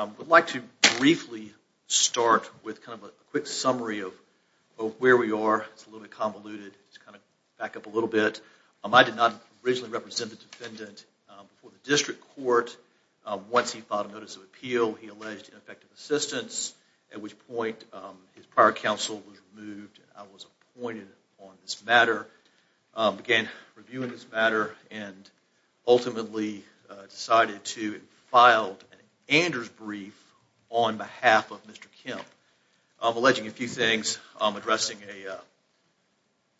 I'd like to briefly start with kind of a quick summary of where we are, it's a little convoluted, just kind of back up a little bit. I did not originally represent the defendant before the district court. Once he filed a notice of appeal, he alleged ineffective assistance, at which point his prior counsel was removed and I was appointed on this matter. I began reviewing this matter and ultimately decided to file an Anders brief on behalf of Mr. Kemp, alleging a few things, addressing a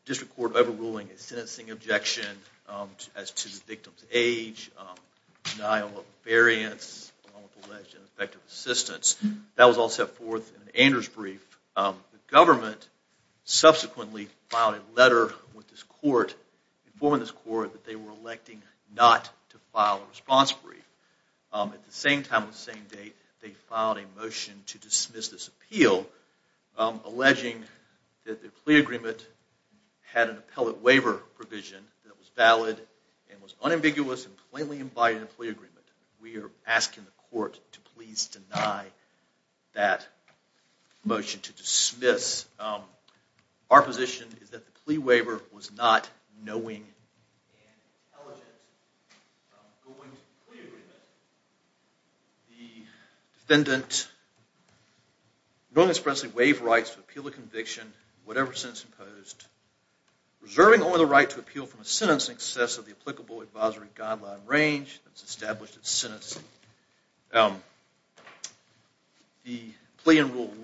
district court overruling a sentencing objection as to the victim's age, denial of variance, alleged ineffective assistance. That was all set forth in an Anders brief. The government subsequently filed a letter with this court, informing this court that they were electing not to file a response brief. At the same time and the same date, they filed a motion to dismiss this appeal, alleging that the plea agreement had an appellate waiver provision that was valid and was unambiguous and plainly implied in the plea agreement. We are asking the court to please deny that motion to dismiss. Our position is that the plea waiver was not knowing and intelligent. The plea in Rule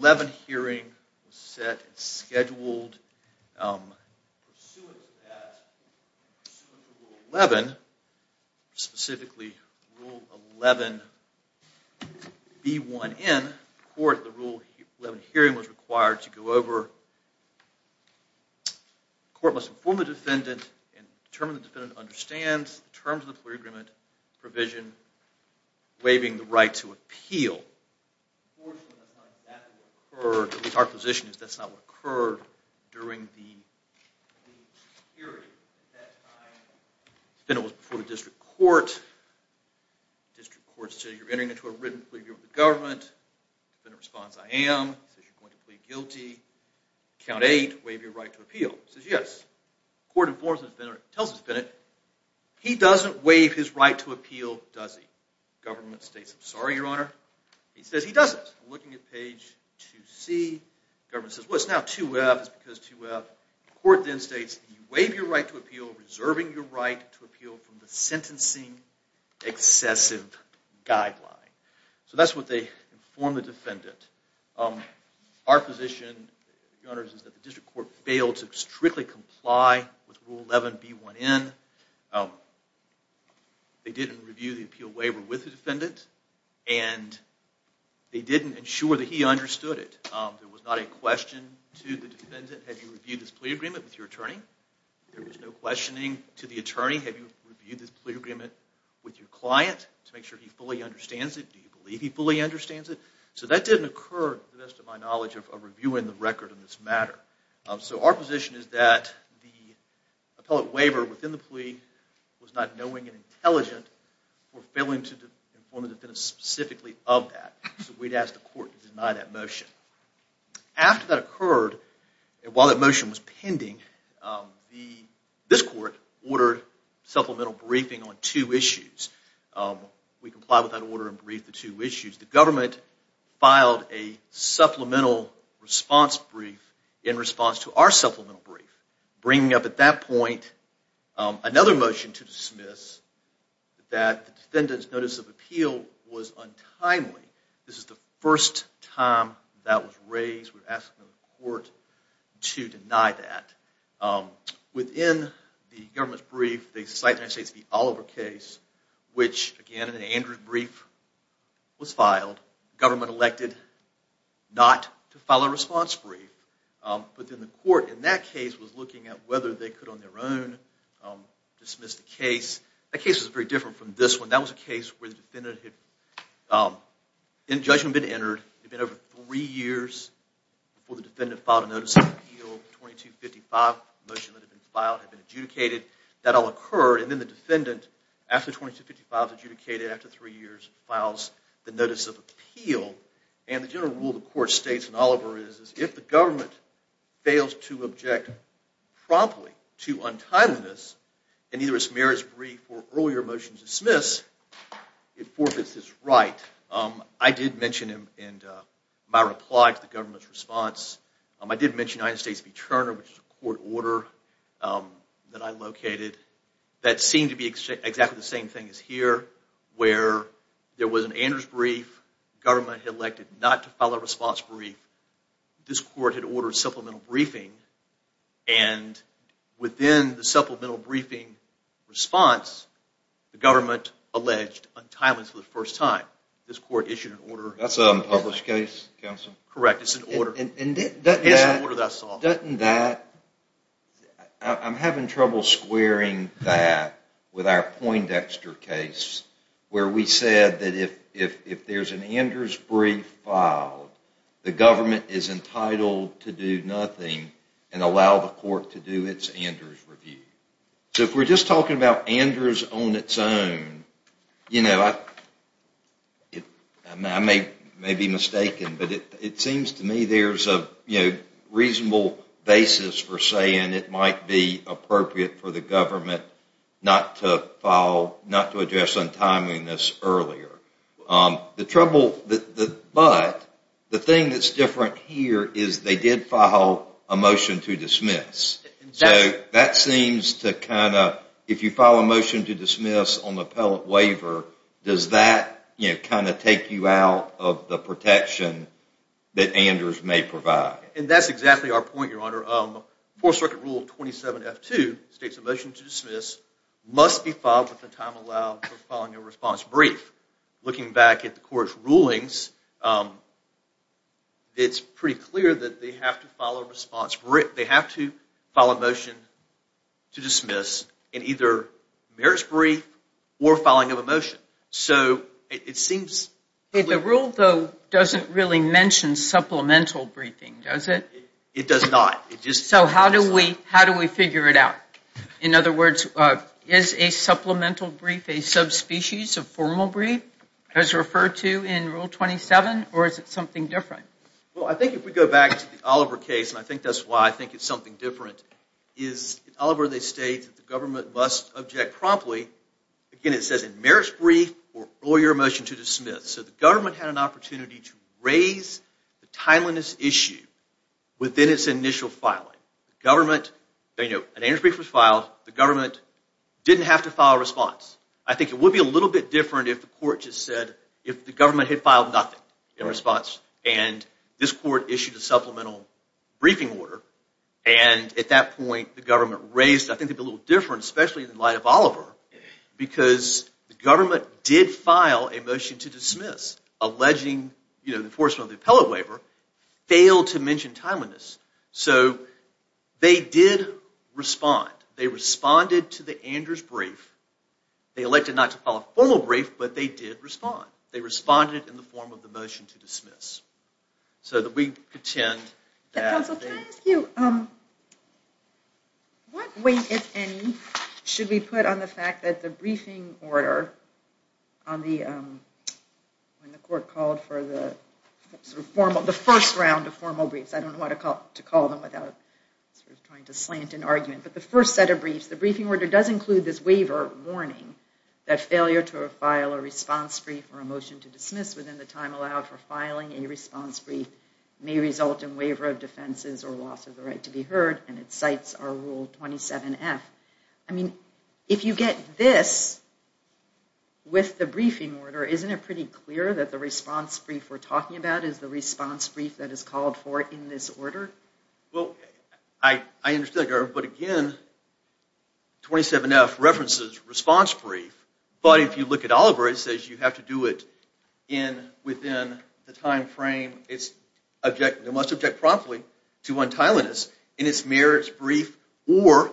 11 hearing was set and scheduled. Pursuant to that, pursuant to Rule 11, specifically Rule 11B1N in court, the Rule 11 hearing was required to go over. The court must inform the defendant and determine the defendant understands the terms of the plea agreement provision waiving the right to appeal. Unfortunately, that's not exactly what occurred. Our position is that's not what occurred during the hearing at that time. The defendant was before the district court. The district court says, you're entering into a written plea with the government. The defendant responds, I am. Says, you're going to plead guilty. Count 8, waive your right to appeal. Says, yes. The court informs the defendant, tells the defendant, he doesn't waive his right to appeal, does he? The government states, I'm sorry, Your Honor. He says, he doesn't. Looking at page 2C, the government says, well, it's now 2F. It's because 2F. The court then states, waive your right to appeal, reserving your right to appeal from the sentencing excessive guideline. So that's what they inform the defendant. Our position, Your Honor, is that the district court failed to strictly comply with Rule 11B1N. They didn't review the appeal waiver with the defendant, and they didn't ensure that he understood it. There was not a question to the defendant, have you reviewed this plea agreement with your attorney? There was no questioning to the attorney, have you reviewed this plea agreement with your client to make sure he fully understands it? Do you believe he fully understands it? So that didn't occur, to the best of my knowledge, of reviewing the record on this matter. So our position is that the appellate waiver within the plea was not knowing and intelligent or failing to inform the defendant specifically of that. So we'd ask the court to deny that motion. After that occurred, and while that motion was pending, this court ordered supplemental briefing on two issues. We complied with that order and briefed the two issues. The government filed a supplemental response brief in response to our supplemental brief, bringing up at that point another motion to dismiss that the defendant's notice of appeal was untimely. This is the first time that was raised. We asked the court to deny that. Within the government's brief, they cite the Oliver case, which again, in Andrew's brief, was filed. The government elected not to file a response brief. But then the court in that case was looking at whether they could, on their own, dismiss the case. That case was very different from this one. That was a case where the defendant had, in judgment, been entered. It had been over three years before the defendant filed a notice of appeal. The 2255 motion that had been filed had been adjudicated. That all occurred, and then the defendant, after 2255 is adjudicated, after three years, files the notice of appeal. The general rule the court states in Oliver is that if the government fails to object promptly to untimeliness in either its merits brief or earlier motion to dismiss, it forfeits its right. I did mention in my reply to the government's response, I did mention the United States v. Turner, which is a court order that I located, that seemed to be exactly the same thing as here, where there was an Andrew's brief, the government had elected not to file a response brief, this court had ordered supplemental briefing, and within the supplemental briefing response, the government alleged untimeliness for the first time. That's an unpublished case, counsel? Correct, it's an order. And doesn't that, I'm having trouble squaring that with our Poindexter case, where we said that if there's an Andrew's brief filed, the government is entitled to do nothing and allow the court to do its Andrew's review. So if we're just talking about Andrew's on its own, I may be mistaken, but it seems to me there's a reasonable basis for saying it might be appropriate for the government not to file, not to address untimeliness earlier. But the thing that's different here is they did file a motion to dismiss. So that seems to kind of, if you file a motion to dismiss on the appellate waiver, does that kind of take you out of the protection that Andrew's may provide? And that's exactly our point, Your Honor. Fourth Circuit Rule 27F2 states a motion to dismiss must be filed with the time allowed for filing a response brief. Looking back at the court's rulings, it's pretty clear that they have to file a motion to dismiss in either merit's brief or filing of a motion. The rule, though, doesn't really mention supplemental briefing, does it? It does not. So how do we figure it out? In other words, is a supplemental brief a subspecies of formal brief, as referred to in Rule 27, or is it something different? Well, I think if we go back to the Oliver case, and I think that's why I think it's something different, is in Oliver they state that the government must object promptly. Again, it says in merit's brief or your motion to dismiss. So the government had an opportunity to raise the timeliness issue within its initial filing. The government, you know, an Andrew's brief was filed, the government didn't have to file a response. I think it would be a little bit different if the court just said, if the government had filed nothing in response, and this court issued a supplemental briefing order, and at that point the government raised, I think it would be a little different, especially in light of Oliver, because the government did file a motion to dismiss, alleging the enforcement of the appellate waiver, failed to mention timeliness. So they did respond. They responded to the Andrew's brief. They elected not to file a formal brief, but they did respond. They responded in the form of the motion to dismiss. So that we pretend that they... Counsel, can I ask you, what weight, if any, should we put on the fact that the briefing order, when the court called for the first round of formal briefs, I don't know what to call them without trying to slant an argument, but the first set of briefs, the briefing order does include this waiver warning, that failure to file a response brief or a motion to dismiss within the time allowed for filing a response brief may result in waiver of defenses or loss of the right to be heard, and it cites our Rule 27F. I mean, if you get this with the briefing order, isn't it pretty clear that the response brief we're talking about is the response brief that is called for in this order? Well, I understand, but again, 27F references response brief, but if you look at Oliver, it says you have to do it within the time frame. It must object promptly to untimeliness in its merits brief or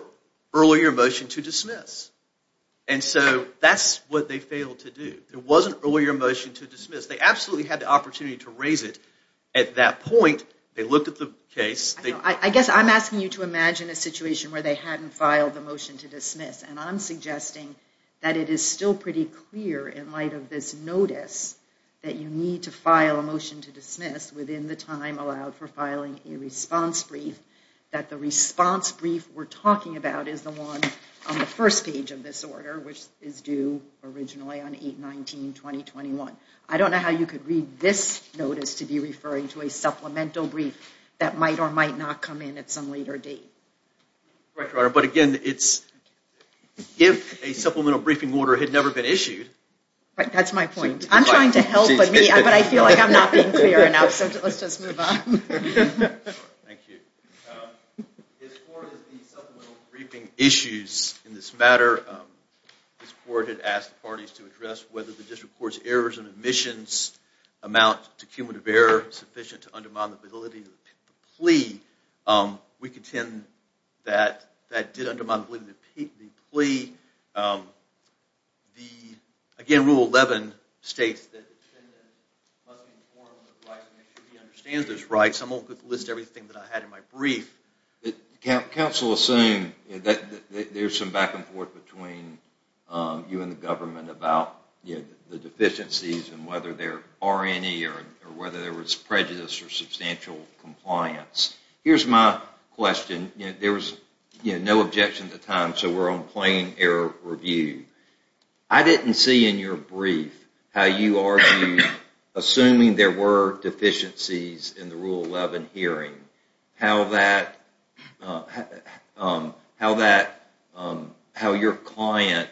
earlier motion to dismiss. And so that's what they failed to do. There was an earlier motion to dismiss. They absolutely had the opportunity to raise it. At that point, they looked at the case. I guess I'm asking you to imagine a situation where they hadn't filed the motion to dismiss, and I'm suggesting that it is still pretty clear in light of this notice that you need to file a motion to dismiss within the time allowed for filing a response brief, that the response brief we're talking about is the one on the first page of this order, which is due originally on 8-19-2021. I don't know how you could read this notice to be referring to a supplemental brief that might or might not come in at some later date. But again, it's if a supplemental briefing order had never been issued. That's my point. I'm trying to help, but I feel like I'm not being clear enough, so let's just move on. Thank you. His court is the supplemental briefing issues in this matter. His court had asked the parties to address whether the district court's errors and omissions amount to cumulative error sufficient to undermine the validity of the plea. We contend that that did undermine the validity of the plea. Again, Rule 11 states that the defendant must be informed of the rights and make sure he understands those rights. I won't list everything that I had in my brief. Counsel is saying that there's some back and forth between you and the government about the deficiencies and whether there are any or whether there was prejudice or substantial compliance. Here's my question. There was no objection at the time, so we're on plain error review. I didn't see in your brief how you argued, assuming there were deficiencies in the Rule 11 hearing, how your client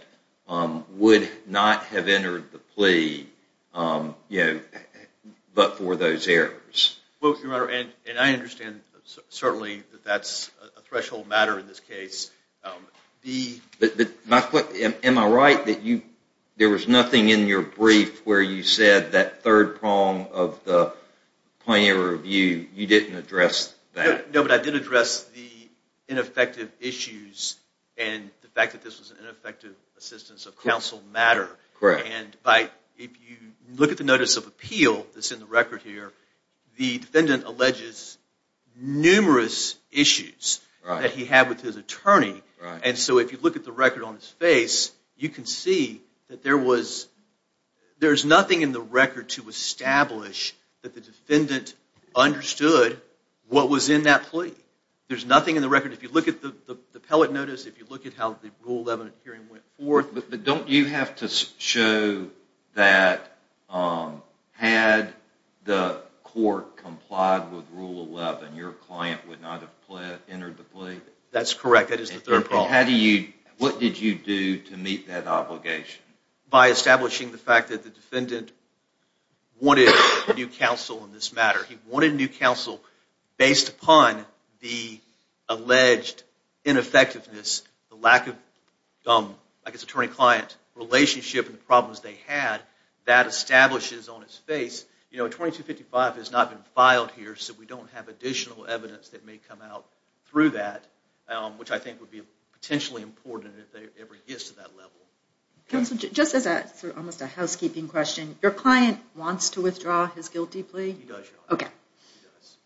would not have entered the plea but for those errors. I understand, certainly, that that's a threshold matter in this case. Am I right that there was nothing in your brief where you said that third prong of the plain error review, you didn't address that? No, but I did address the ineffective issues and the fact that this was an ineffective assistance of counsel matter. If you look at the notice of appeal that's in the record here, the defendant alleges numerous issues that he had with his attorney. If you look at the record on his face, you can see that there's nothing in the record to establish that the defendant understood what was in that plea. There's nothing in the record. If you look at the appellate notice, if you look at how the Rule 11 hearing went forth. But don't you have to show that had the court complied with Rule 11, your client would not have entered the plea? That's correct. That is the third prong. What did you do to meet that obligation? By establishing the fact that the defendant wanted new counsel in this matter. He wanted new counsel based upon the alleged ineffectiveness, the lack of, I guess, attorney-client relationship and the problems they had. That establishes on his face, you know, 2255 has not been filed here, so we don't have additional evidence that may come out through that, which I think would be potentially important if they ever get to that level. Counsel, just as almost a housekeeping question, your client wants to withdraw his guilty plea? He does, Your Honor.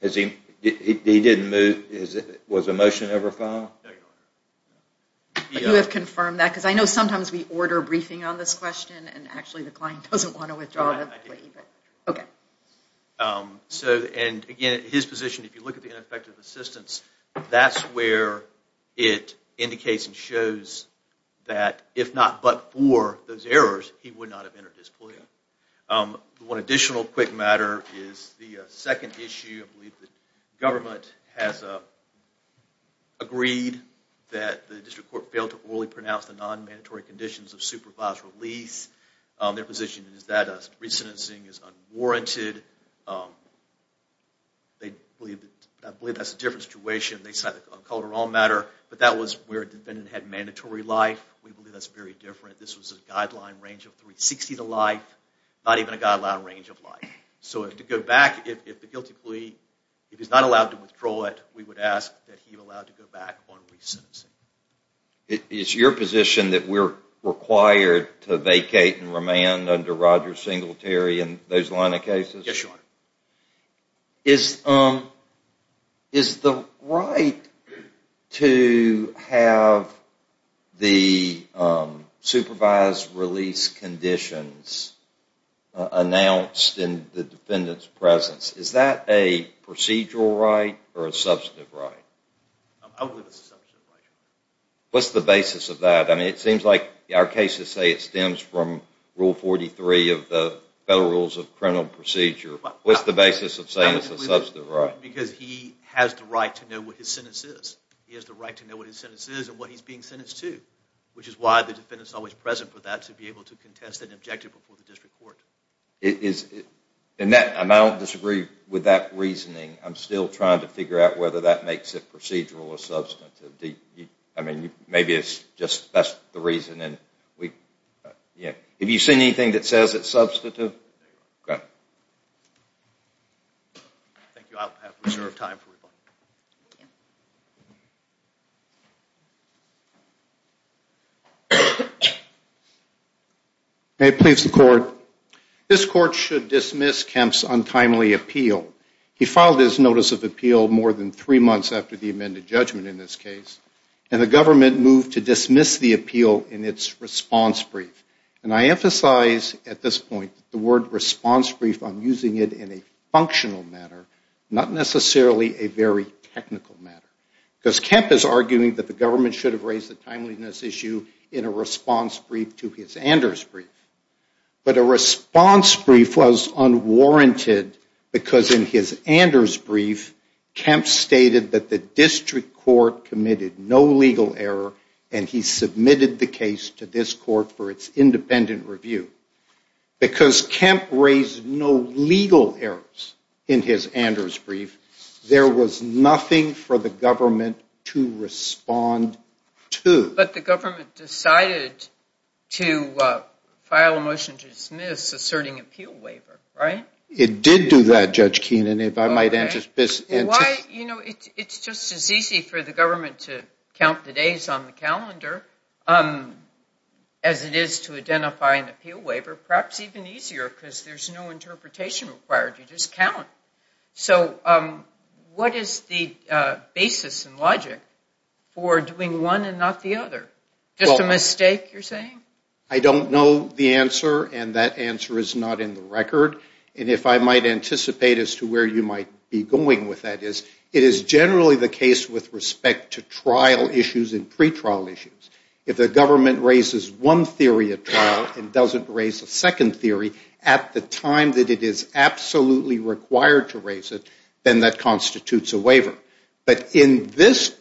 Okay. He didn't move, was a motion ever filed? No, Your Honor. You have confirmed that, because I know sometimes we order a briefing on this question and actually the client doesn't want to withdraw the plea. Again, his position, if you look at the ineffective assistance, that's where it indicates and shows that if not but for those errors, he would not have entered his plea. One additional quick matter is the second issue. I believe the government has agreed that the district court failed to orally pronounce the non-mandatory conditions of supervised release. Their position is that a re-sentencing is unwarranted. I believe that's a different situation. They cited a collateral matter, but that was where a defendant had mandatory life. We believe that's very different. This was a guideline range of 360 to life, not even a guideline range of life. So to go back, if the guilty plea, if he's not allowed to withdraw it, we would ask that he be allowed to go back on re-sentencing. Is your position that we're required to vacate and remand under Roger Singletary and those line of cases? Yes, Your Honor. Is the right to have the supervised release conditions announced in the defendant's presence, is that a procedural right or a substantive right? I believe it's a substantive right. What's the basis of that? It seems like our cases say it stems from Rule 43 of the Federal Rules of Criminal Procedure. What's the basis of saying it's a substantive right? Because he has the right to know what his sentence is. He has the right to know what his sentence is and what he's being sentenced to, which is why the defendant is always present for that to be able to contest an objective before the district court. I don't disagree with that reasoning. I'm still trying to figure out whether that makes it procedural or substantive. Maybe that's just the reason. Have you seen anything that says it's substantive? No, Your Honor. This court should dismiss Kemp's untimely appeal. He filed his notice of appeal more than three months after the amended judgment in this case, and the government moved to dismiss the appeal in its response brief. And I emphasize at this point the word response brief. I'm using it in a functional matter, not necessarily a very technical matter, because Kemp is arguing that the government should have raised the timeliness issue in a response brief to his Anders brief. But a response brief was unwarranted because in his Anders brief, Kemp stated that the district court committed no legal error, and he submitted the case to this court for its independent review. Because Kemp raised no legal errors in his Anders brief, there was nothing for the government to respond to. But the government decided to file a motion to dismiss asserting appeal waiver, right? It did do that, Judge Keenan, if I might anticipate. Why? You know, it's just as easy for the government to count the days on the calendar as it is to identify an appeal waiver, perhaps even easier because there's no interpretation required. You just count. So what is the basis and logic for doing one and not the other? Just a mistake, you're saying? I don't know the answer, and that answer is not in the record. And if I might anticipate as to where you might be going with that, it is generally the case with respect to trial issues and pretrial issues. If the government raises one theory at trial and doesn't raise a second theory at the time that it is absolutely required to raise it, then that constitutes a waiver. But in this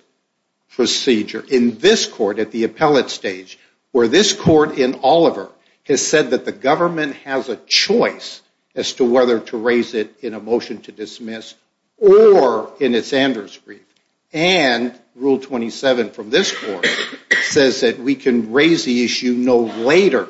procedure, in this court at the appellate stage, where this court in Oliver has said that the government has a choice as to whether to raise it in a motion to dismiss or in its Anders brief, and Rule 27 from this court says that we can raise the issue no later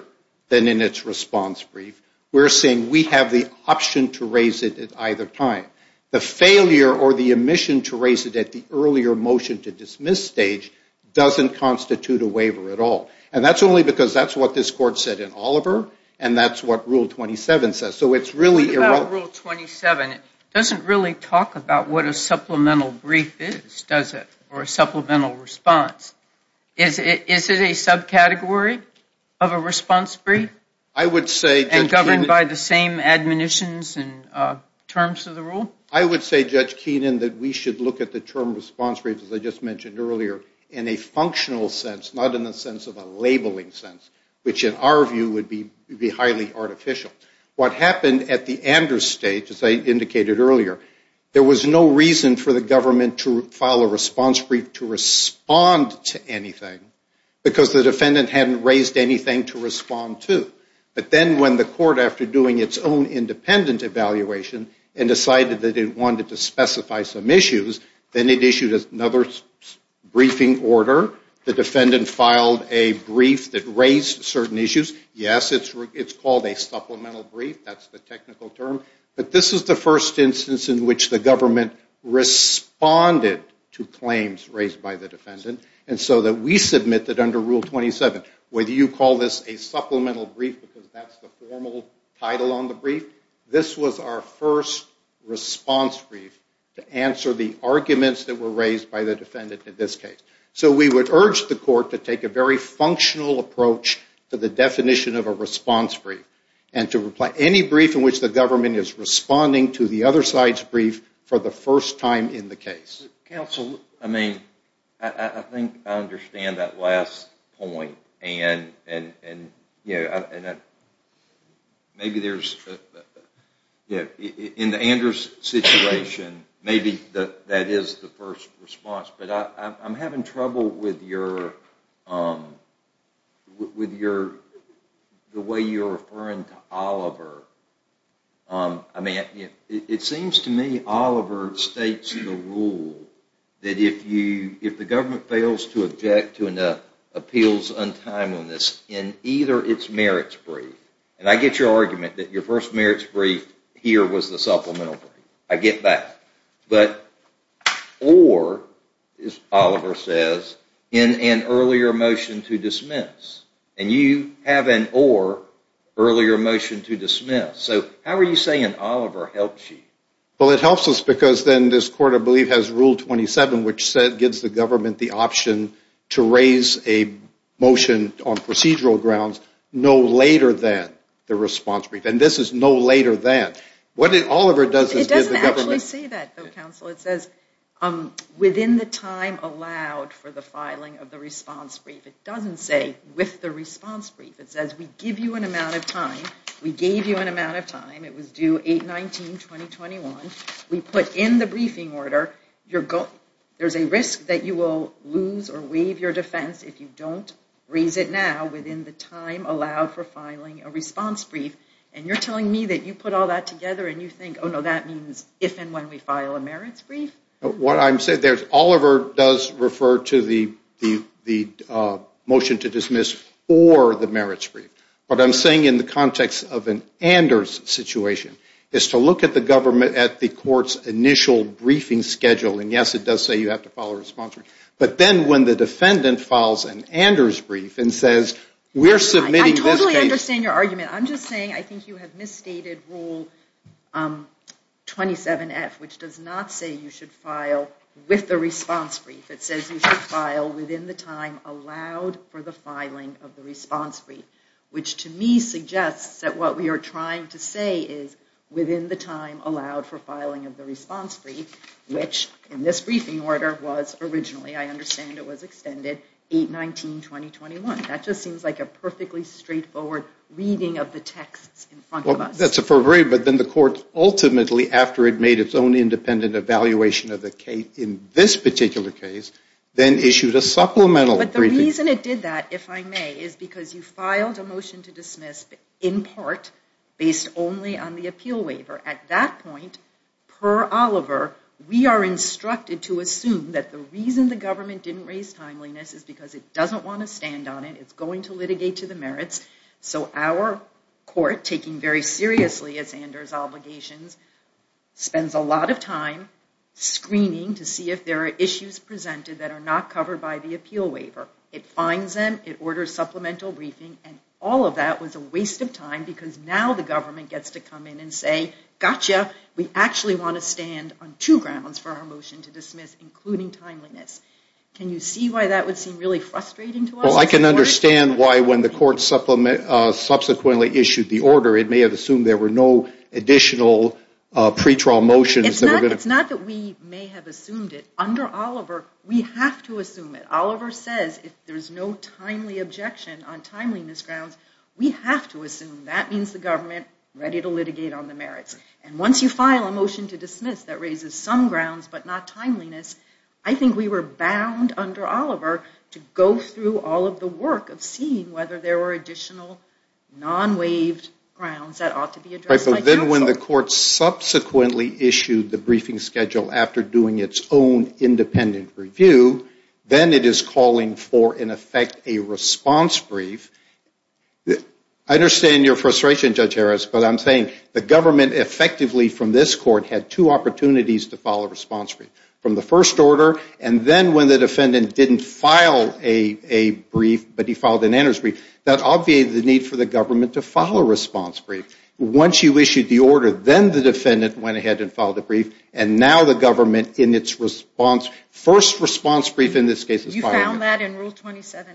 than in its response brief, we're saying we have the option to raise it at either time. The failure or the omission to raise it at the earlier motion to dismiss stage doesn't constitute a waiver at all. And that's only because that's what this court said in Oliver, and that's what Rule 27 says. So it's really irrelevant. What about Rule 27? It doesn't really talk about what a supplemental brief is, does it, or a supplemental response. Is it a subcategory of a response brief? And governed by the same admonitions and terms of the rule? I would say, Judge Keenan, that we should look at the term response brief, as I just mentioned earlier, in a functional sense, not in the sense of a labeling sense, which in our view would be highly artificial. What happened at the Anders stage, as I indicated earlier, there was no reason for the government to file a response brief to respond to anything because the defendant hadn't raised anything to respond to. But then when the court, after doing its own independent evaluation, and decided that it wanted to specify some issues, then it issued another briefing order. The defendant filed a brief that raised certain issues. Yes, it's called a supplemental brief. That's the technical term. But this is the first instance in which the government responded to claims raised by the defendant. And so that we submitted under Rule 27, whether you call this a supplemental brief, because that's the formal title on the brief, this was our first response brief to answer the arguments that were raised by the defendant in this case. So we would urge the court to take a very functional approach to the definition of a response brief. And to reply, any brief in which the government is responding to the other side's brief for the first time in the case. Counsel, I think I understand that last point. In the Anders situation, maybe that is the first response, but I'm having trouble with the way you're referring to Oliver. It seems to me Oliver states the rule that if the government fails to object to an appeals untimeliness in either its merits brief, and I get your argument that your first merits brief here was the supplemental brief. I get that. But, or, as Oliver says, in an earlier motion to dismiss. And you have an or earlier motion to dismiss. So how are you saying Oliver helped you? Well, it helps us because then this court, I believe, has Rule 27, which gives the government the option to raise a motion on procedural grounds no later than the response brief. And this is no later than. What Oliver does is give the government. It doesn't actually say that, though, Counsel. It says within the time allowed for the filing of the response brief. It doesn't say with the response brief. It says we give you an amount of time. We gave you an amount of time. It was due 8-19-2021. We put in the briefing order. There's a risk that you will lose or waive your defense if you don't raise it now within the time allowed for filing a response brief. And you're telling me that you put all that together and you think, oh, no, that means if and when we file a merits brief? What I'm saying there is Oliver does refer to the motion to dismiss or the merits brief. What I'm saying in the context of an Anders situation is to look at the government at the court's initial briefing schedule. And, yes, it does say you have to file a response brief. But then when the defendant files an Anders brief and says we're submitting this case. I totally understand your argument. I'm just saying I think you have misstated rule 27-F, which does not say you should file with the response brief. It says you should file within the time allowed for the filing of the response brief, which to me suggests that what we are trying to say is within the time allowed for filing of the response brief, which in this briefing order was originally, I understand it was extended, 8-19-2021. That just seems like a perfectly straightforward reading of the texts in front of us. Well, that's appropriate. But then the court ultimately, after it made its own independent evaluation of the case in this particular case, then issued a supplemental briefing. But the reason it did that, if I may, is because you filed a motion to dismiss in part based only on the appeal waiver. At that point, per Oliver, we are instructed to assume that the reason the government didn't raise timeliness is because it doesn't want to stand on it. It's going to litigate to the merits. So our court, taking very seriously its Anders obligations, spends a lot of time screening to see if there are issues presented that are not covered by the appeal waiver. It finds them. It orders supplemental briefing. And all of that was a waste of time because now the government gets to come in and say, gotcha, we actually want to stand on two grounds for our motion to dismiss, including timeliness. Can you see why that would seem really frustrating to us? Well, I can understand why when the court subsequently issued the order, it may have assumed there were no additional pre-trial motions. It's not that we may have assumed it. Under Oliver, we have to assume it. Oliver says if there's no timely objection on timeliness grounds, we have to assume that means the government is ready to litigate on the merits. And once you file a motion to dismiss that raises some grounds but not timeliness, I think we were bound under Oliver to go through all of the work of seeing whether there were additional non-waived grounds that ought to be addressed by counsel. Then when the court subsequently issued the briefing schedule after doing its own independent review, then it is calling for, in effect, a response brief. I understand your frustration, Judge Harris, but I'm saying the government effectively from this court had two opportunities to file a response brief, from the first order, and then when the defendant didn't file a brief but he filed an interest brief, that obviated the need for the government to file a response brief. Once you issued the order, then the defendant went ahead and filed a brief, and now the government in its first response brief in this case is filing it. You found that in Rule 27F?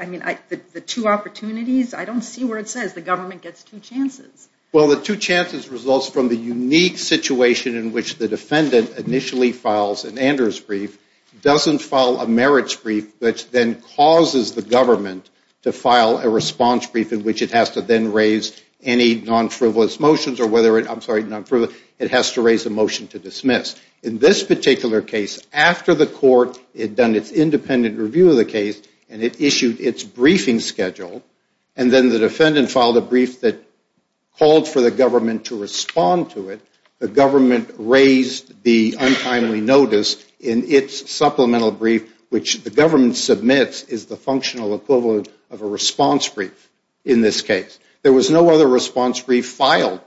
I mean, the two opportunities? I don't see where it says the government gets two chances. Well, the two chances results from the unique situation in which the defendant initially files an interest brief, doesn't file a merits brief, which then causes the government to file a response brief in which it has to then raise any non-frivolous motions or whether it, I'm sorry, non-frivolous, it has to raise a motion to dismiss. In this particular case, after the court had done its independent review of the case and it issued its briefing schedule and then the defendant filed a brief that called for the government to respond to it, the government raised the untimely notice in its supplemental brief, which the government submits is the functional equivalent of a response brief in this case. There was no other response brief filed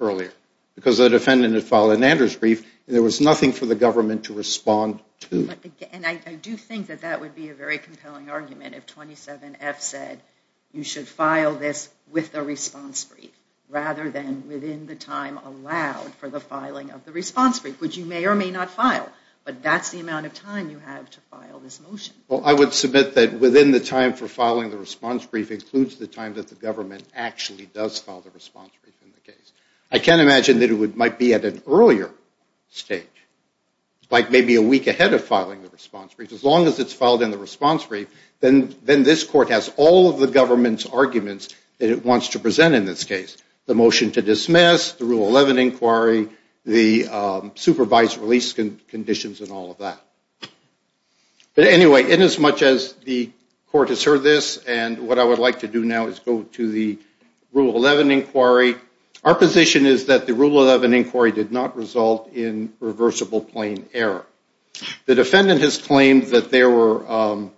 earlier because the defendant had filed an interest brief and there was nothing for the government to respond to. And I do think that that would be a very compelling argument if 27F said, you should file this with a response brief rather than within the time allowed for the filing of the response brief, which you may or may not file, but that's the amount of time you have to file this motion. Well, I would submit that within the time for filing the response brief includes the time that the government actually does file the response brief in the case. I can imagine that it might be at an earlier stage, like maybe a week ahead of filing the response brief. As long as it's filed in the response brief, then this court has all of the government's arguments that it wants to present in this case, the motion to dismiss, the Rule 11 inquiry, the supervised release conditions and all of that. But anyway, inasmuch as the court has heard this and what I would like to do now is go to the Rule 11 inquiry, our position is that the Rule 11 inquiry did not result in reversible plain error. The defendant has claimed that there were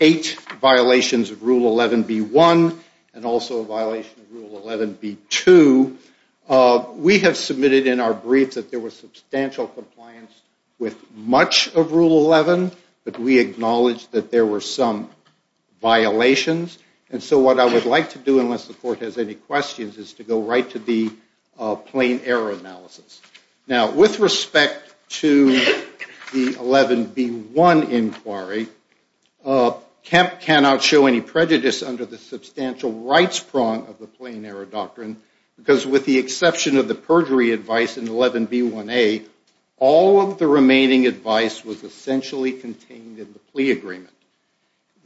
eight violations of Rule 11B1 and also a violation of Rule 11B2. We have submitted in our briefs that there was substantial compliance with much of Rule 11, but we acknowledge that there were some violations. And so what I would like to do, unless the court has any questions, is to go right to the plain error analysis. Now, with respect to the 11B1 inquiry, Kemp cannot show any prejudice under the substantial rights prong of the plain error doctrine because with the exception of the perjury advice in 11B1A, all of the remaining advice was essentially contained in the plea agreement.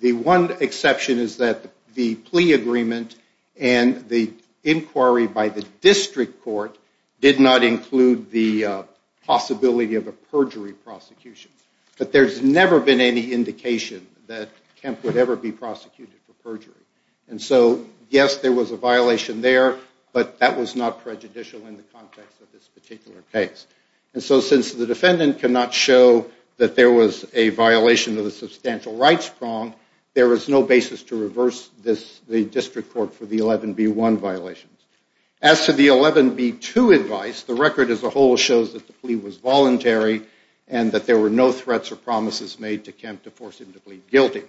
The one exception is that the plea agreement and the inquiry by the district court did not include the possibility of a perjury prosecution. But there's never been any indication that Kemp would ever be prosecuted for perjury. And so, yes, there was a violation there, but that was not prejudicial in the context of this particular case. And so since the defendant cannot show that there was a violation of the substantial rights prong, there was no basis to reverse the district court for the 11B1 violations. As to the 11B2 advice, the record as a whole shows that the plea was voluntary and that there were no threats or promises made to Kemp to force him to plead guilty.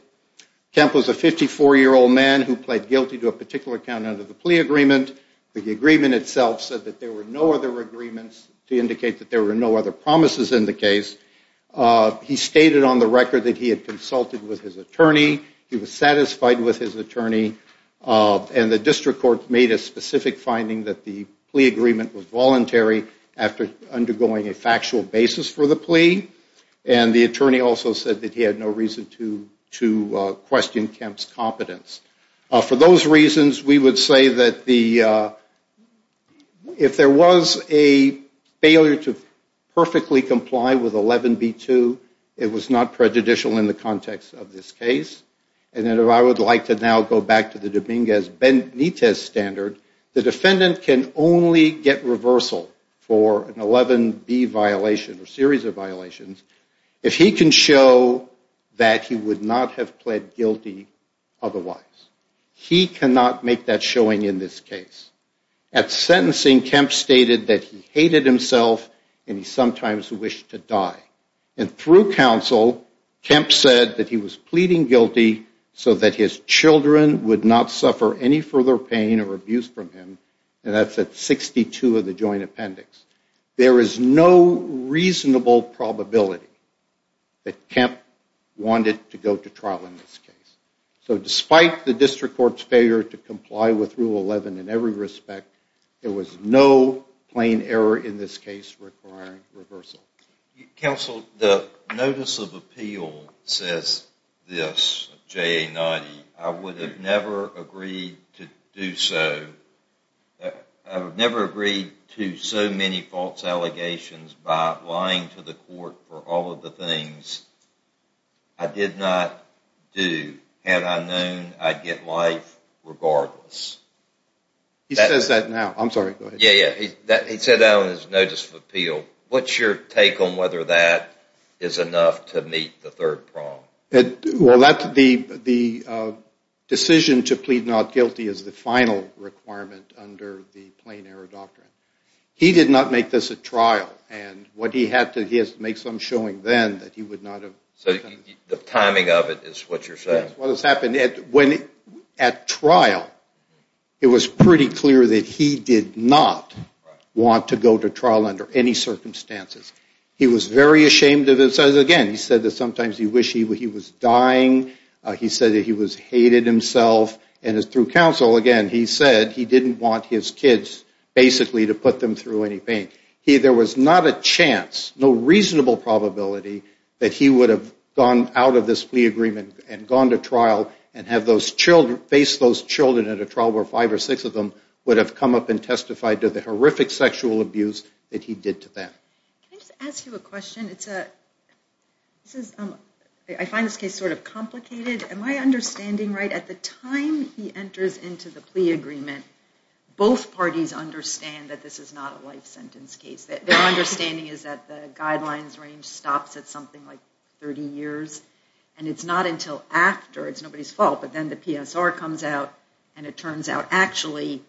Kemp was a 54-year-old man who pled guilty to a particular count under the plea agreement. The agreement itself said that there were no other agreements to indicate that there were no other promises in the case. He stated on the record that he had consulted with his attorney. He was satisfied with his attorney. And the district court made a specific finding that the plea agreement was voluntary after undergoing a factual basis for the plea. And the attorney also said that he had no reason to question Kemp's competence. For those reasons, we would say that if there was a failure to perfectly comply with 11B2, it was not prejudicial in the context of this case. And then I would like to now go back to the Dominguez-Benitez standard. The defendant can only get reversal for an 11B violation or series of violations if he can show that he would not have pled guilty otherwise. He cannot make that showing in this case. At sentencing, Kemp stated that he hated himself and he sometimes wished to die. And through counsel, Kemp said that he was pleading guilty so that his children would not suffer any further pain or abuse from him, and that's at 62 of the joint appendix. There is no reasonable probability that Kemp wanted to go to trial in this case. So despite the district court's failure to comply with Rule 11 in every respect, there was no plain error in this case requiring reversal. Counsel, the Notice of Appeal says this, JA 90, I would have never agreed to do so. I would have never agreed to so many false allegations by lying to the court for all of the things I did not do had I known I'd get life regardless. He says that now. I'm sorry. Go ahead. Yeah, yeah. He said that on his Notice of Appeal. What's your take on whether that is enough to meet the third prong? Well, the decision to plead not guilty is the final requirement under the plain error doctrine. He did not make this a trial. And what he had to do is make some showing then that he would not have. So the timing of it is what you're saying? That's what has happened. At trial, it was pretty clear that he did not want to go to trial under any circumstances. He was very ashamed of it. Again, he said that sometimes he wished he was dying. He said that he hated himself. And through counsel, again, he said he didn't want his kids basically to put them through any pain. There was not a chance, no reasonable probability, that he would have gone out of this plea agreement and gone to trial and faced those children at a trial where five or six of them would have come up and testified to the horrific sexual abuse that he did to them. Can I just ask you a question? I find this case sort of complicated. Am I understanding right? At the time he enters into the plea agreement, both parties understand that this is not a life sentence case. Their understanding is that the guidelines range stops at something like 30 years. And it's not until after. It's nobody's fault. But then the PSR comes out, and it turns out actually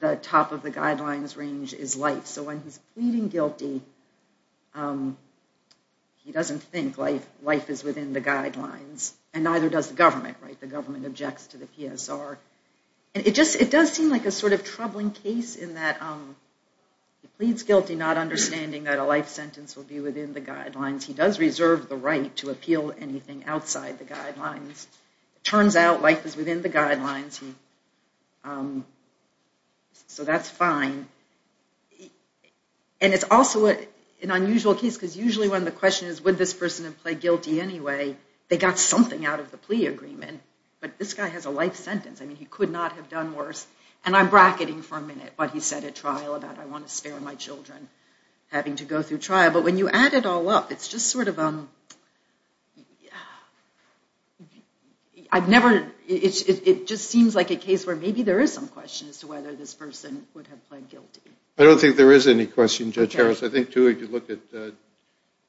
the top of the guidelines range is life. So when he's pleading guilty, he doesn't think life is within the guidelines, and neither does the government. The government objects to the PSR. It does seem like a sort of troubling case in that he pleads guilty not understanding that a life sentence would be within the guidelines. He does reserve the right to appeal anything outside the guidelines. It turns out life is within the guidelines. So that's fine. And it's also an unusual case because usually when the question is would this person have pled guilty anyway, they got something out of the plea agreement. But this guy has a life sentence. I mean, he could not have done worse. And I'm bracketing for a minute what he said at trial about I want to spare my children having to go through trial. But when you add it all up, it's just sort of I've never, it just seems like a case where maybe there is some question as to whether this person would have pled guilty. I don't think there is any question, Judge Harris. I think, too, if you look at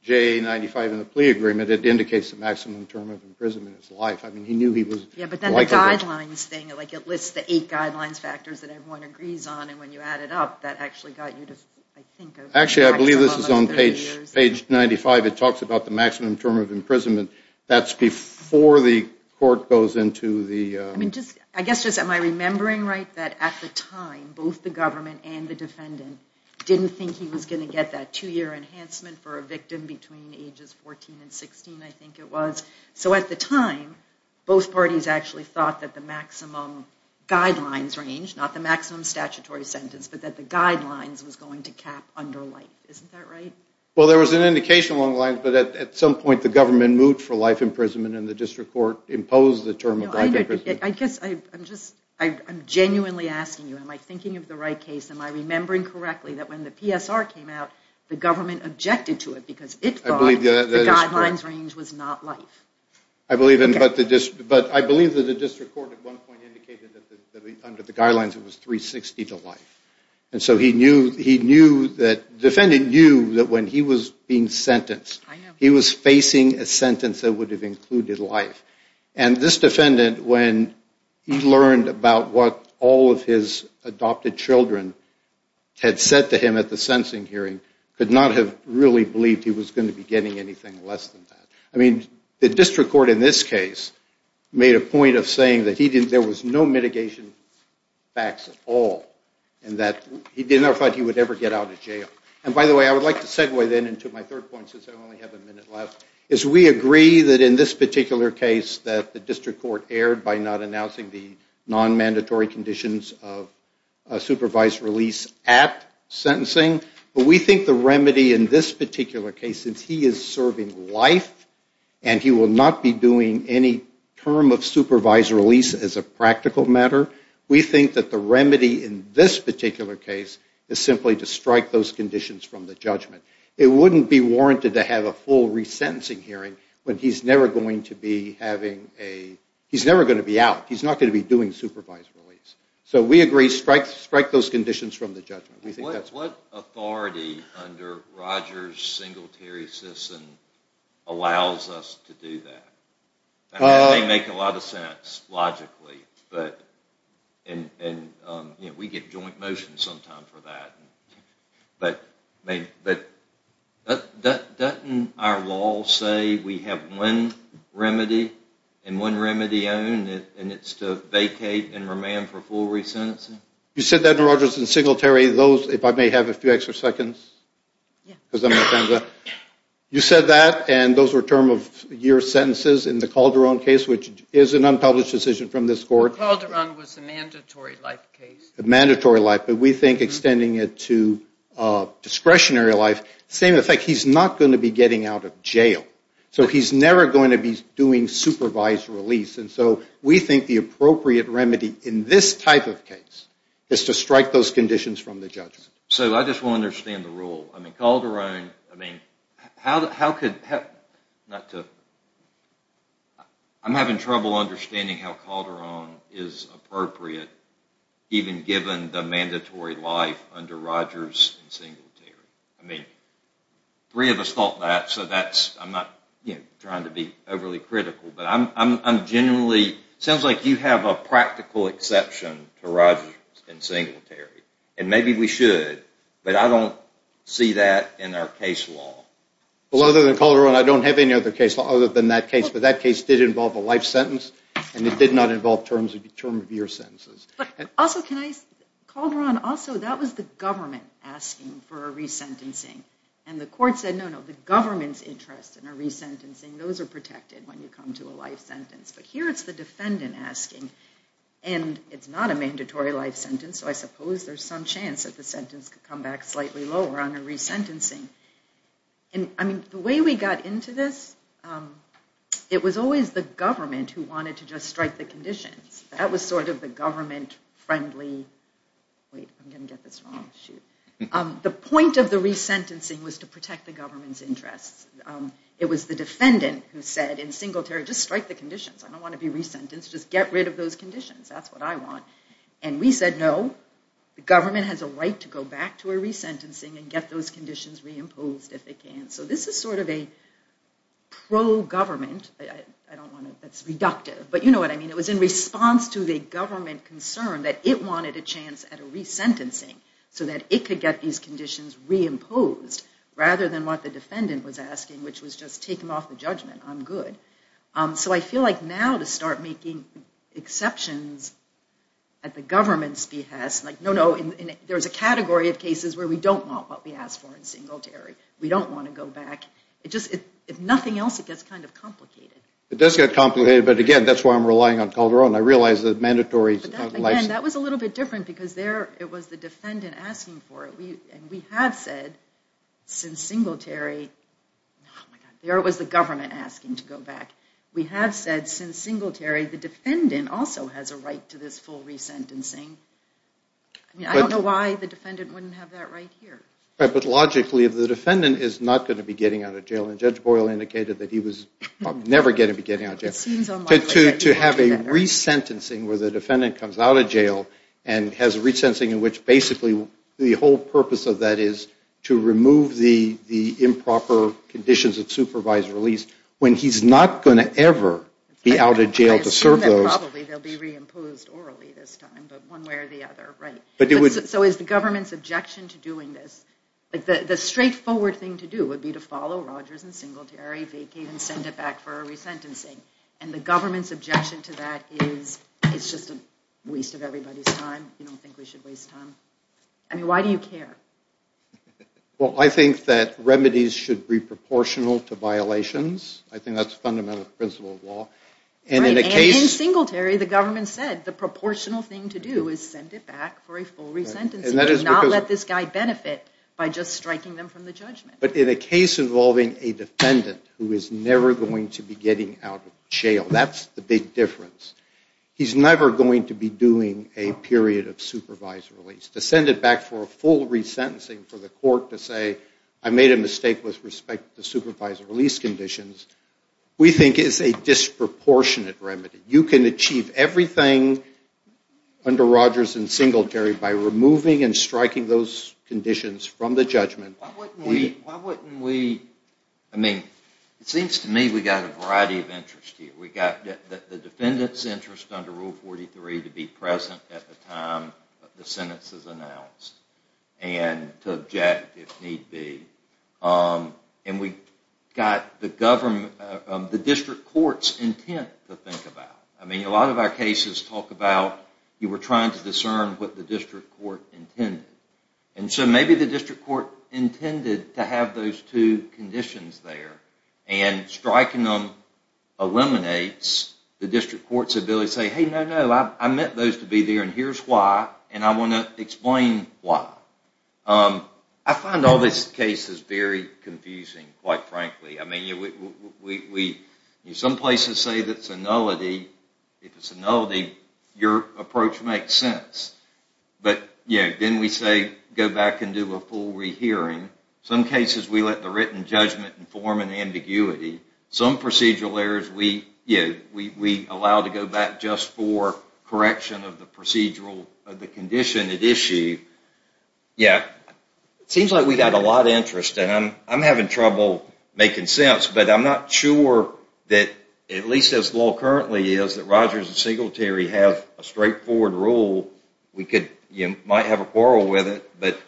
J95 in the plea agreement, it indicates the maximum term of imprisonment is life. I mean, he knew he was liable. Yeah, but then the guidelines thing, like it lists the eight guidelines factors that everyone agrees on, and when you add it up, that actually got you to, I think, Actually, I believe this is on page 95. It talks about the maximum term of imprisonment. That's before the court goes into the I guess just am I remembering right that at the time, both the government and the defendant didn't think he was going to get that two-year enhancement for a victim between ages 14 and 16, I think it was. So at the time, both parties actually thought that the maximum guidelines range, not the maximum statutory sentence, but that the guidelines was going to cap under life. Isn't that right? Well, there was an indication along the lines, but at some point, the government moved for life imprisonment, and the district court imposed the term of life imprisonment. I guess I'm just genuinely asking you, am I thinking of the right case? Am I remembering correctly that when the PSR came out, the government objected to it because it thought the guidelines range was not life? I believe that the district court at one point indicated that under the guidelines, it was 360 to life. And so he knew that the defendant knew that when he was being sentenced, he was facing a sentence that would have included life. And this defendant, when he learned about what all of his adopted children had said to him at the sensing hearing, could not have really believed he was going to be getting anything less than that. I mean, the district court in this case made a point of saying that there was no mitigation facts at all, and that he never thought he would ever get out of jail. And by the way, I would like to segue then into my third point, since I only have a minute left, is we agree that in this particular case that the district court erred by not announcing the non-mandatory conditions of supervised release at sentencing. But we think the remedy in this particular case, since he is serving life, and he will not be doing any term of supervised release as a practical matter, we think that the remedy in this particular case is simply to strike those conditions from the judgment. It wouldn't be warranted to have a full resentencing hearing when he's never going to be having a, he's never going to be out, he's not going to be doing supervised release. So we agree, strike those conditions from the judgment. What authority under Rogers' Singletary System allows us to do that? It may make a lot of sense logically, but we get joint motion sometimes for that. But doesn't our law say we have one remedy, and one remedy only, and it's to vacate and remand for full resentencing? You said that in Rogers' Singletary, those, if I may have a few extra seconds, you said that, and those were term of year sentences in the Calderon case, which is an unpublished decision from this court. Calderon was a mandatory life case. Mandatory life, but we think extending it to discretionary life, same effect, he's not going to be getting out of jail. So he's never going to be doing supervised release. And so we think the appropriate remedy in this type of case is to strike those conditions from the judgment. So I just want to understand the rule. I mean, Calderon, I mean, how could, not to, I'm having trouble understanding how Calderon is appropriate, even given the mandatory life under Rogers' Singletary. I mean, three of us thought that, so that's, I'm not trying to be overly critical, but I'm genuinely, sounds like you have a practical exception to Rogers' Singletary. And maybe we should, but I don't see that in our case law. Well, other than Calderon, I don't have any other case law other than that case. But that case did involve a life sentence, and it did not involve term of year sentences. But also, can I, Calderon, also, that was the government asking for a resentencing. And the court said, no, no, the government's interest in a resentencing, those are protected when you come to a life sentence. But here it's the defendant asking, and it's not a mandatory life sentence, so I suppose there's some chance that the sentence could come back slightly lower on a resentencing. And, I mean, the way we got into this, it was always the government who wanted to just strike the conditions. That was sort of the government-friendly, wait, I'm going to get this wrong, shoot. The point of the resentencing was to protect the government's interests. It was the defendant who said in Singletary, just strike the conditions. I don't want to be resentenced, just get rid of those conditions. That's what I want. And we said, no, the government has a right to go back to a resentencing and get those conditions reimposed if it can. So this is sort of a pro-government, I don't want to, that's reductive, but you know what I mean, it was in response to the government concern that it wanted a chance at a resentencing so that it could get these conditions reimposed rather than what the defendant was asking, which was just take them off the judgment, I'm good. So I feel like now to start making exceptions at the government's behest, like no, no, there's a category of cases where we don't want what we asked for in Singletary. We don't want to go back. If nothing else, it gets kind of complicated. It does get complicated, but again, that's why I'm relying on Calderon. I realize the mandatory license. Again, that was a little bit different because there it was the defendant asking for it. And we have said since Singletary, there it was the government asking to go back. We have said since Singletary the defendant also has a right to this full resentencing. I don't know why the defendant wouldn't have that right here. But logically the defendant is not going to be getting out of jail, and Judge Boyle indicated that he was never going to be getting out of jail. To have a resentencing where the defendant comes out of jail and has a resentencing in which basically the whole purpose of that is to remove the improper conditions of supervised release when he's not going to ever be out of jail to serve those. I assume that probably they'll be reimposed orally this time, but one way or the other, right? So is the government's objection to doing this, like the straightforward thing to do would be to follow Rogers and Singletary, vacate and send it back for a resentencing. And the government's objection to that is it's just a waste of everybody's time. You don't think we should waste time? I mean, why do you care? Well, I think that remedies should be proportional to violations. I think that's a fundamental principle of law. Right, and in Singletary the government said the proportional thing to do is send it back for a full resentencing. Do not let this guy benefit by just striking them from the judgment. But in a case involving a defendant who is never going to be getting out of jail, that's the big difference. He's never going to be doing a period of supervised release. To send it back for a full resentencing for the court to say, I made a mistake with respect to supervised release conditions, we think is a disproportionate remedy. You can achieve everything under Rogers and Singletary by removing and striking those conditions from the judgment. Why wouldn't we, I mean, it seems to me we've got a variety of interest here. We've got the defendant's interest under Rule 43 to be present at the time the sentence is announced and to object if need be. And we've got the district court's intent to think about. I mean, a lot of our cases talk about you were trying to discern what the district court intended. And so maybe the district court intended to have those two conditions there and striking them eliminates the district court's ability to say, hey, no, no, I meant those to be there and here's why, and I want to explain why. I find all these cases very confusing, quite frankly. I mean, some places say that's a nullity. If it's a nullity, your approach makes sense. But then we say go back and do a full rehearing. Some cases we let the written judgment inform an ambiguity. Some procedural errors we allow to go back just for correction of the condition at issue. It seems like we've got a lot of interest, and I'm having trouble making sense, but I'm not sure that at least as low currently is that Rogers and Singletary have a straightforward rule. You might have a quarrel with it, but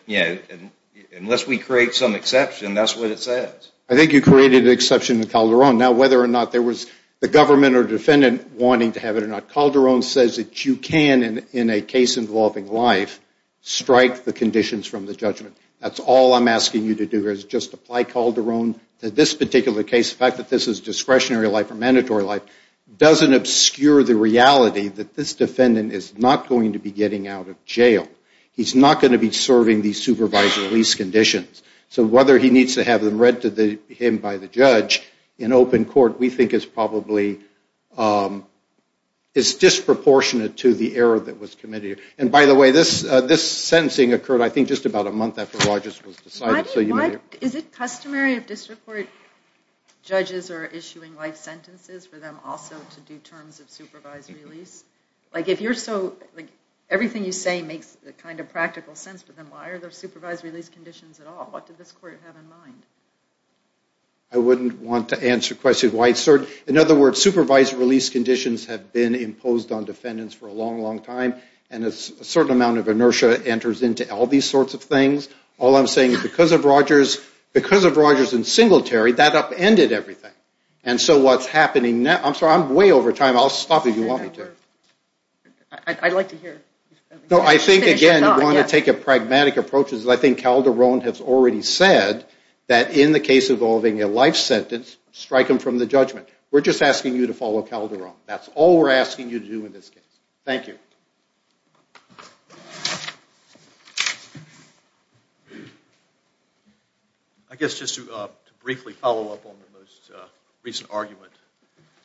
unless we create some exception, that's what it says. I think you created an exception in Calderon. Now whether or not there was the government or defendant wanting to have it or not, Calderon says that you can, in a case involving life, strike the conditions from the judgment. That's all I'm asking you to do is just apply Calderon to this particular case. The fact that this is discretionary life or mandatory life doesn't obscure the reality that this defendant is not going to be getting out of jail. He's not going to be serving these supervised release conditions. So whether he needs to have them read to him by the judge in open court, we think is probably disproportionate to the error that was committed. By the way, this sentencing occurred I think just about a month after Rogers was decided. Is it customary if district court judges are issuing life sentences for them also to do terms of supervised release? Like if everything you say makes kind of practical sense to them, why are there supervised release conditions at all? What did this court have in mind? I wouldn't want to answer questions. In other words, supervised release conditions have been imposed on defendants for a long, long time, and a certain amount of inertia enters into all these sorts of things. All I'm saying is because of Rogers and Singletary, that upended everything. And so what's happening now, I'm sorry, I'm way over time. I'll stop if you want me to. I'd like to hear. I think, again, you want to take a pragmatic approach. I think Calderon has already said that in the case involving a life sentence, strike him from the judgment. We're just asking you to follow Calderon. That's all we're asking you to do in this case. Thank you. Thank you. I guess just to briefly follow up on the most recent argument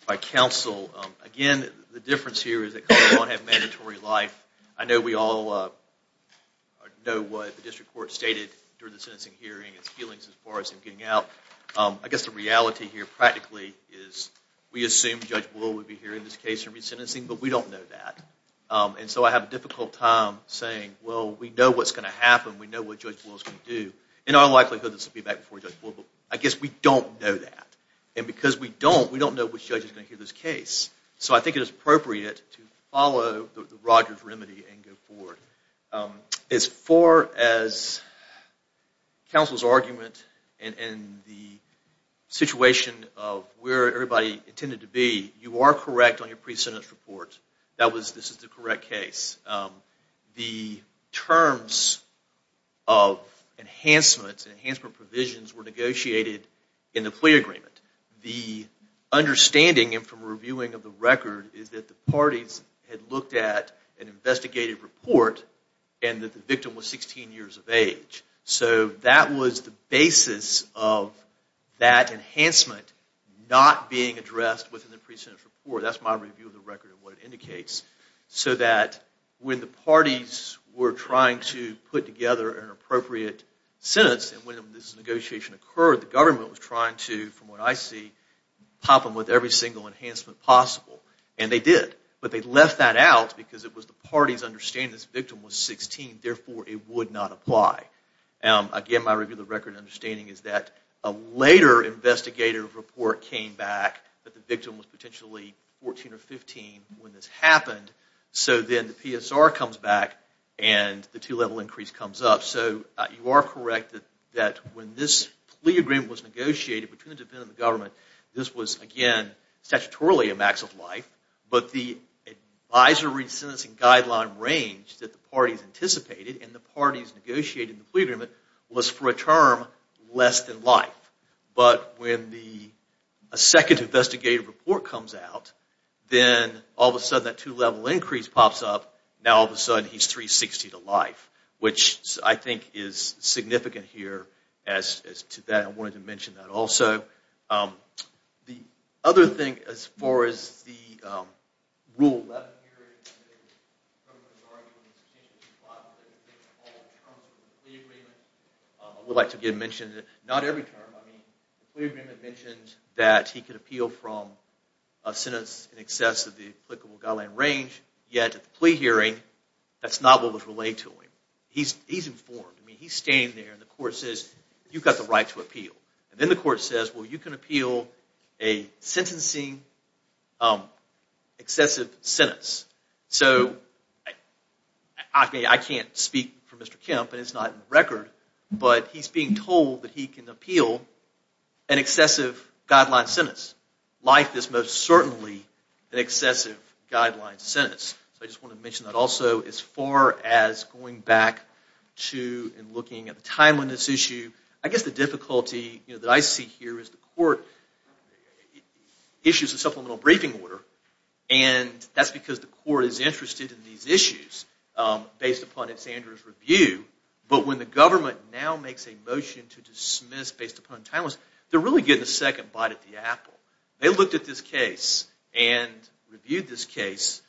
by counsel, again, the difference here is that Calderon won't have mandatory life. I know we all know what the district court stated during the sentencing hearing, its feelings as far as him getting out. I guess the reality here practically is we assume Judge Wool would be hearing this case for resentencing, but we don't know that. And so I have a difficult time saying, well, we know what's going to happen. We know what Judge Wool is going to do. In all likelihood, this will be back before Judge Wool, but I guess we don't know that. And because we don't, we don't know which judge is going to hear this case. So I think it is appropriate to follow Roger's remedy and go forward. As far as counsel's argument and the situation of where everybody intended to be, you are correct on your pre-sentence report. This is the correct case. The terms of enhancements and enhancement provisions were negotiated in the plea agreement. The understanding from reviewing of the record is that the parties had looked at an investigated report and that the victim was 16 years of age. So that was the basis of that enhancement not being addressed within the pre-sentence report. That's my review of the record and what it indicates. So that when the parties were trying to put together an appropriate sentence and when this negotiation occurred, the government was trying to, from what I see, pop them with every single enhancement possible. And they did. But they left that out because it was the parties understanding this victim was 16, therefore it would not apply. Again, my review of the record and understanding is that a later investigative report came back that the victim was potentially 14 or 15 when this happened. So then the PSR comes back and the two-level increase comes up. So you are correct that when this plea agreement was negotiated between the defendant and the government, this was, again, statutorily a max of life. But the advisory sentencing guideline range that the parties anticipated and the parties negotiated in the plea agreement was for a term less than life. But when the second investigative report comes out, then all of a sudden that two-level increase pops up. Now all of a sudden he's 360 to life, which I think is significant here. I wanted to mention that also. The other thing as far as the Rule 11 here, I would like to again mention that not every term. I mean, the plea agreement mentions that he could appeal from a sentence in excess of the applicable guideline range. Yet at the plea hearing, that's not what was relayed to him. He's informed. I mean, he's standing there and the court says, you've got the right to appeal. And then the court says, well, you can appeal a sentencing excessive sentence. So I can't speak for Mr. Kemp, and it's not in the record, but he's being told that he can appeal an excessive guideline sentence. Life is most certainly an excessive guideline sentence. So I just wanted to mention that also. As far as going back to and looking at the timeline of this issue, I guess the difficulty that I see here is the court issues a supplemental briefing order, and that's because the court is interested in these issues based upon its Andrews review. But when the government now makes a motion to dismiss based upon timelines, they're really getting a second bite at the apple. They looked at this case and reviewed this case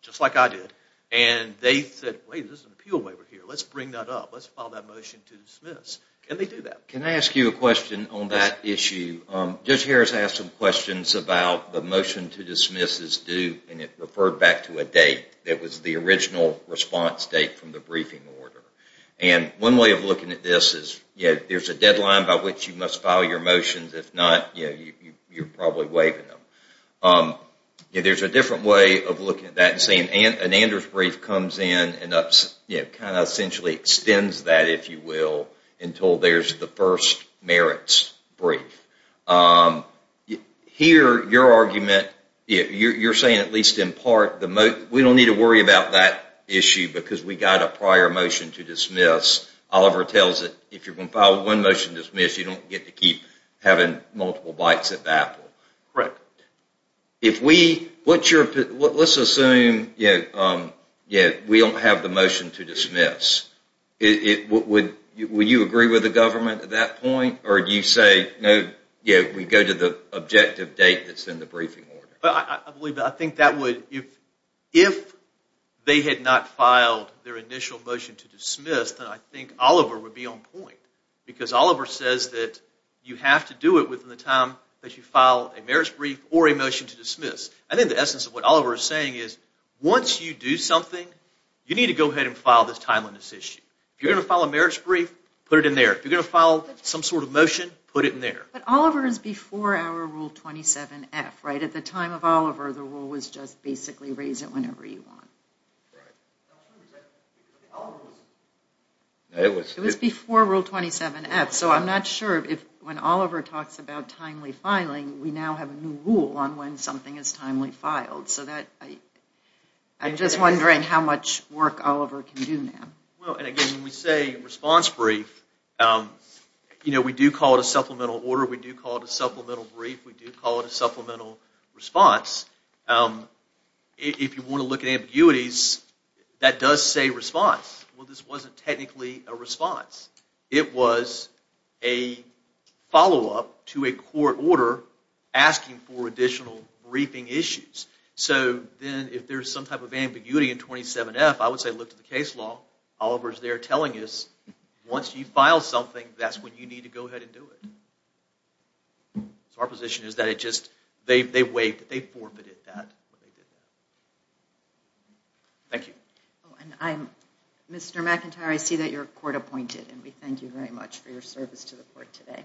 just like I did, and they said, wait, there's an appeal waiver here. Let's bring that up. Let's file that motion to dismiss. Can they do that? Can I ask you a question on that issue? Judge Harris asked some questions about the motion to dismiss is due, and it referred back to a date that was the original response date from the briefing order. And one way of looking at this is there's a deadline by which you must file your motions. If not, you're probably waiving them. There's a different way of looking at that and saying an Andrews brief comes in and kind of essentially extends that, if you will, until there's the first merits brief. Here, your argument, you're saying at least in part, we don't need to worry about that issue because we got a prior motion to dismiss. Oliver tells it if you're going to file one motion to dismiss, you don't get to keep having multiple bites at the apple. Correct. Let's assume we don't have the motion to dismiss. Would you agree with the government at that point? Or do you say, no, we go to the objective date that's in the briefing order? I believe that. I think if they had not filed their initial motion to dismiss, then I think Oliver would be on point. Because Oliver says that you have to do it within the time that you file a merits brief or a motion to dismiss. I think the essence of what Oliver is saying is once you do something, you need to go ahead and file this timeliness issue. If you're going to file a merits brief, put it in there. If you're going to file some sort of motion, put it in there. But Oliver is before our Rule 27F, right? At the time of Oliver, the rule was just basically raise it whenever you want. Right. It was before Rule 27F. So I'm not sure if when Oliver talks about timely filing, we now have a new rule on when something is timely filed. So I'm just wondering how much work Oliver can do now. Again, when we say response brief, we do call it a supplemental order. We do call it a supplemental brief. We do call it a supplemental response. If you want to look at ambiguities, that does say response. Well, this wasn't technically a response. It was a follow-up to a court order asking for additional briefing issues. So then if there's some type of ambiguity in 27F, I would say look to the case law. Oliver is there telling us once you file something, that's when you need to go ahead and do it. So our position is that they waived it. They forfeited that. Thank you. Mr. McIntyre, I see that you're court-appointed. We thank you very much for your service to the court today.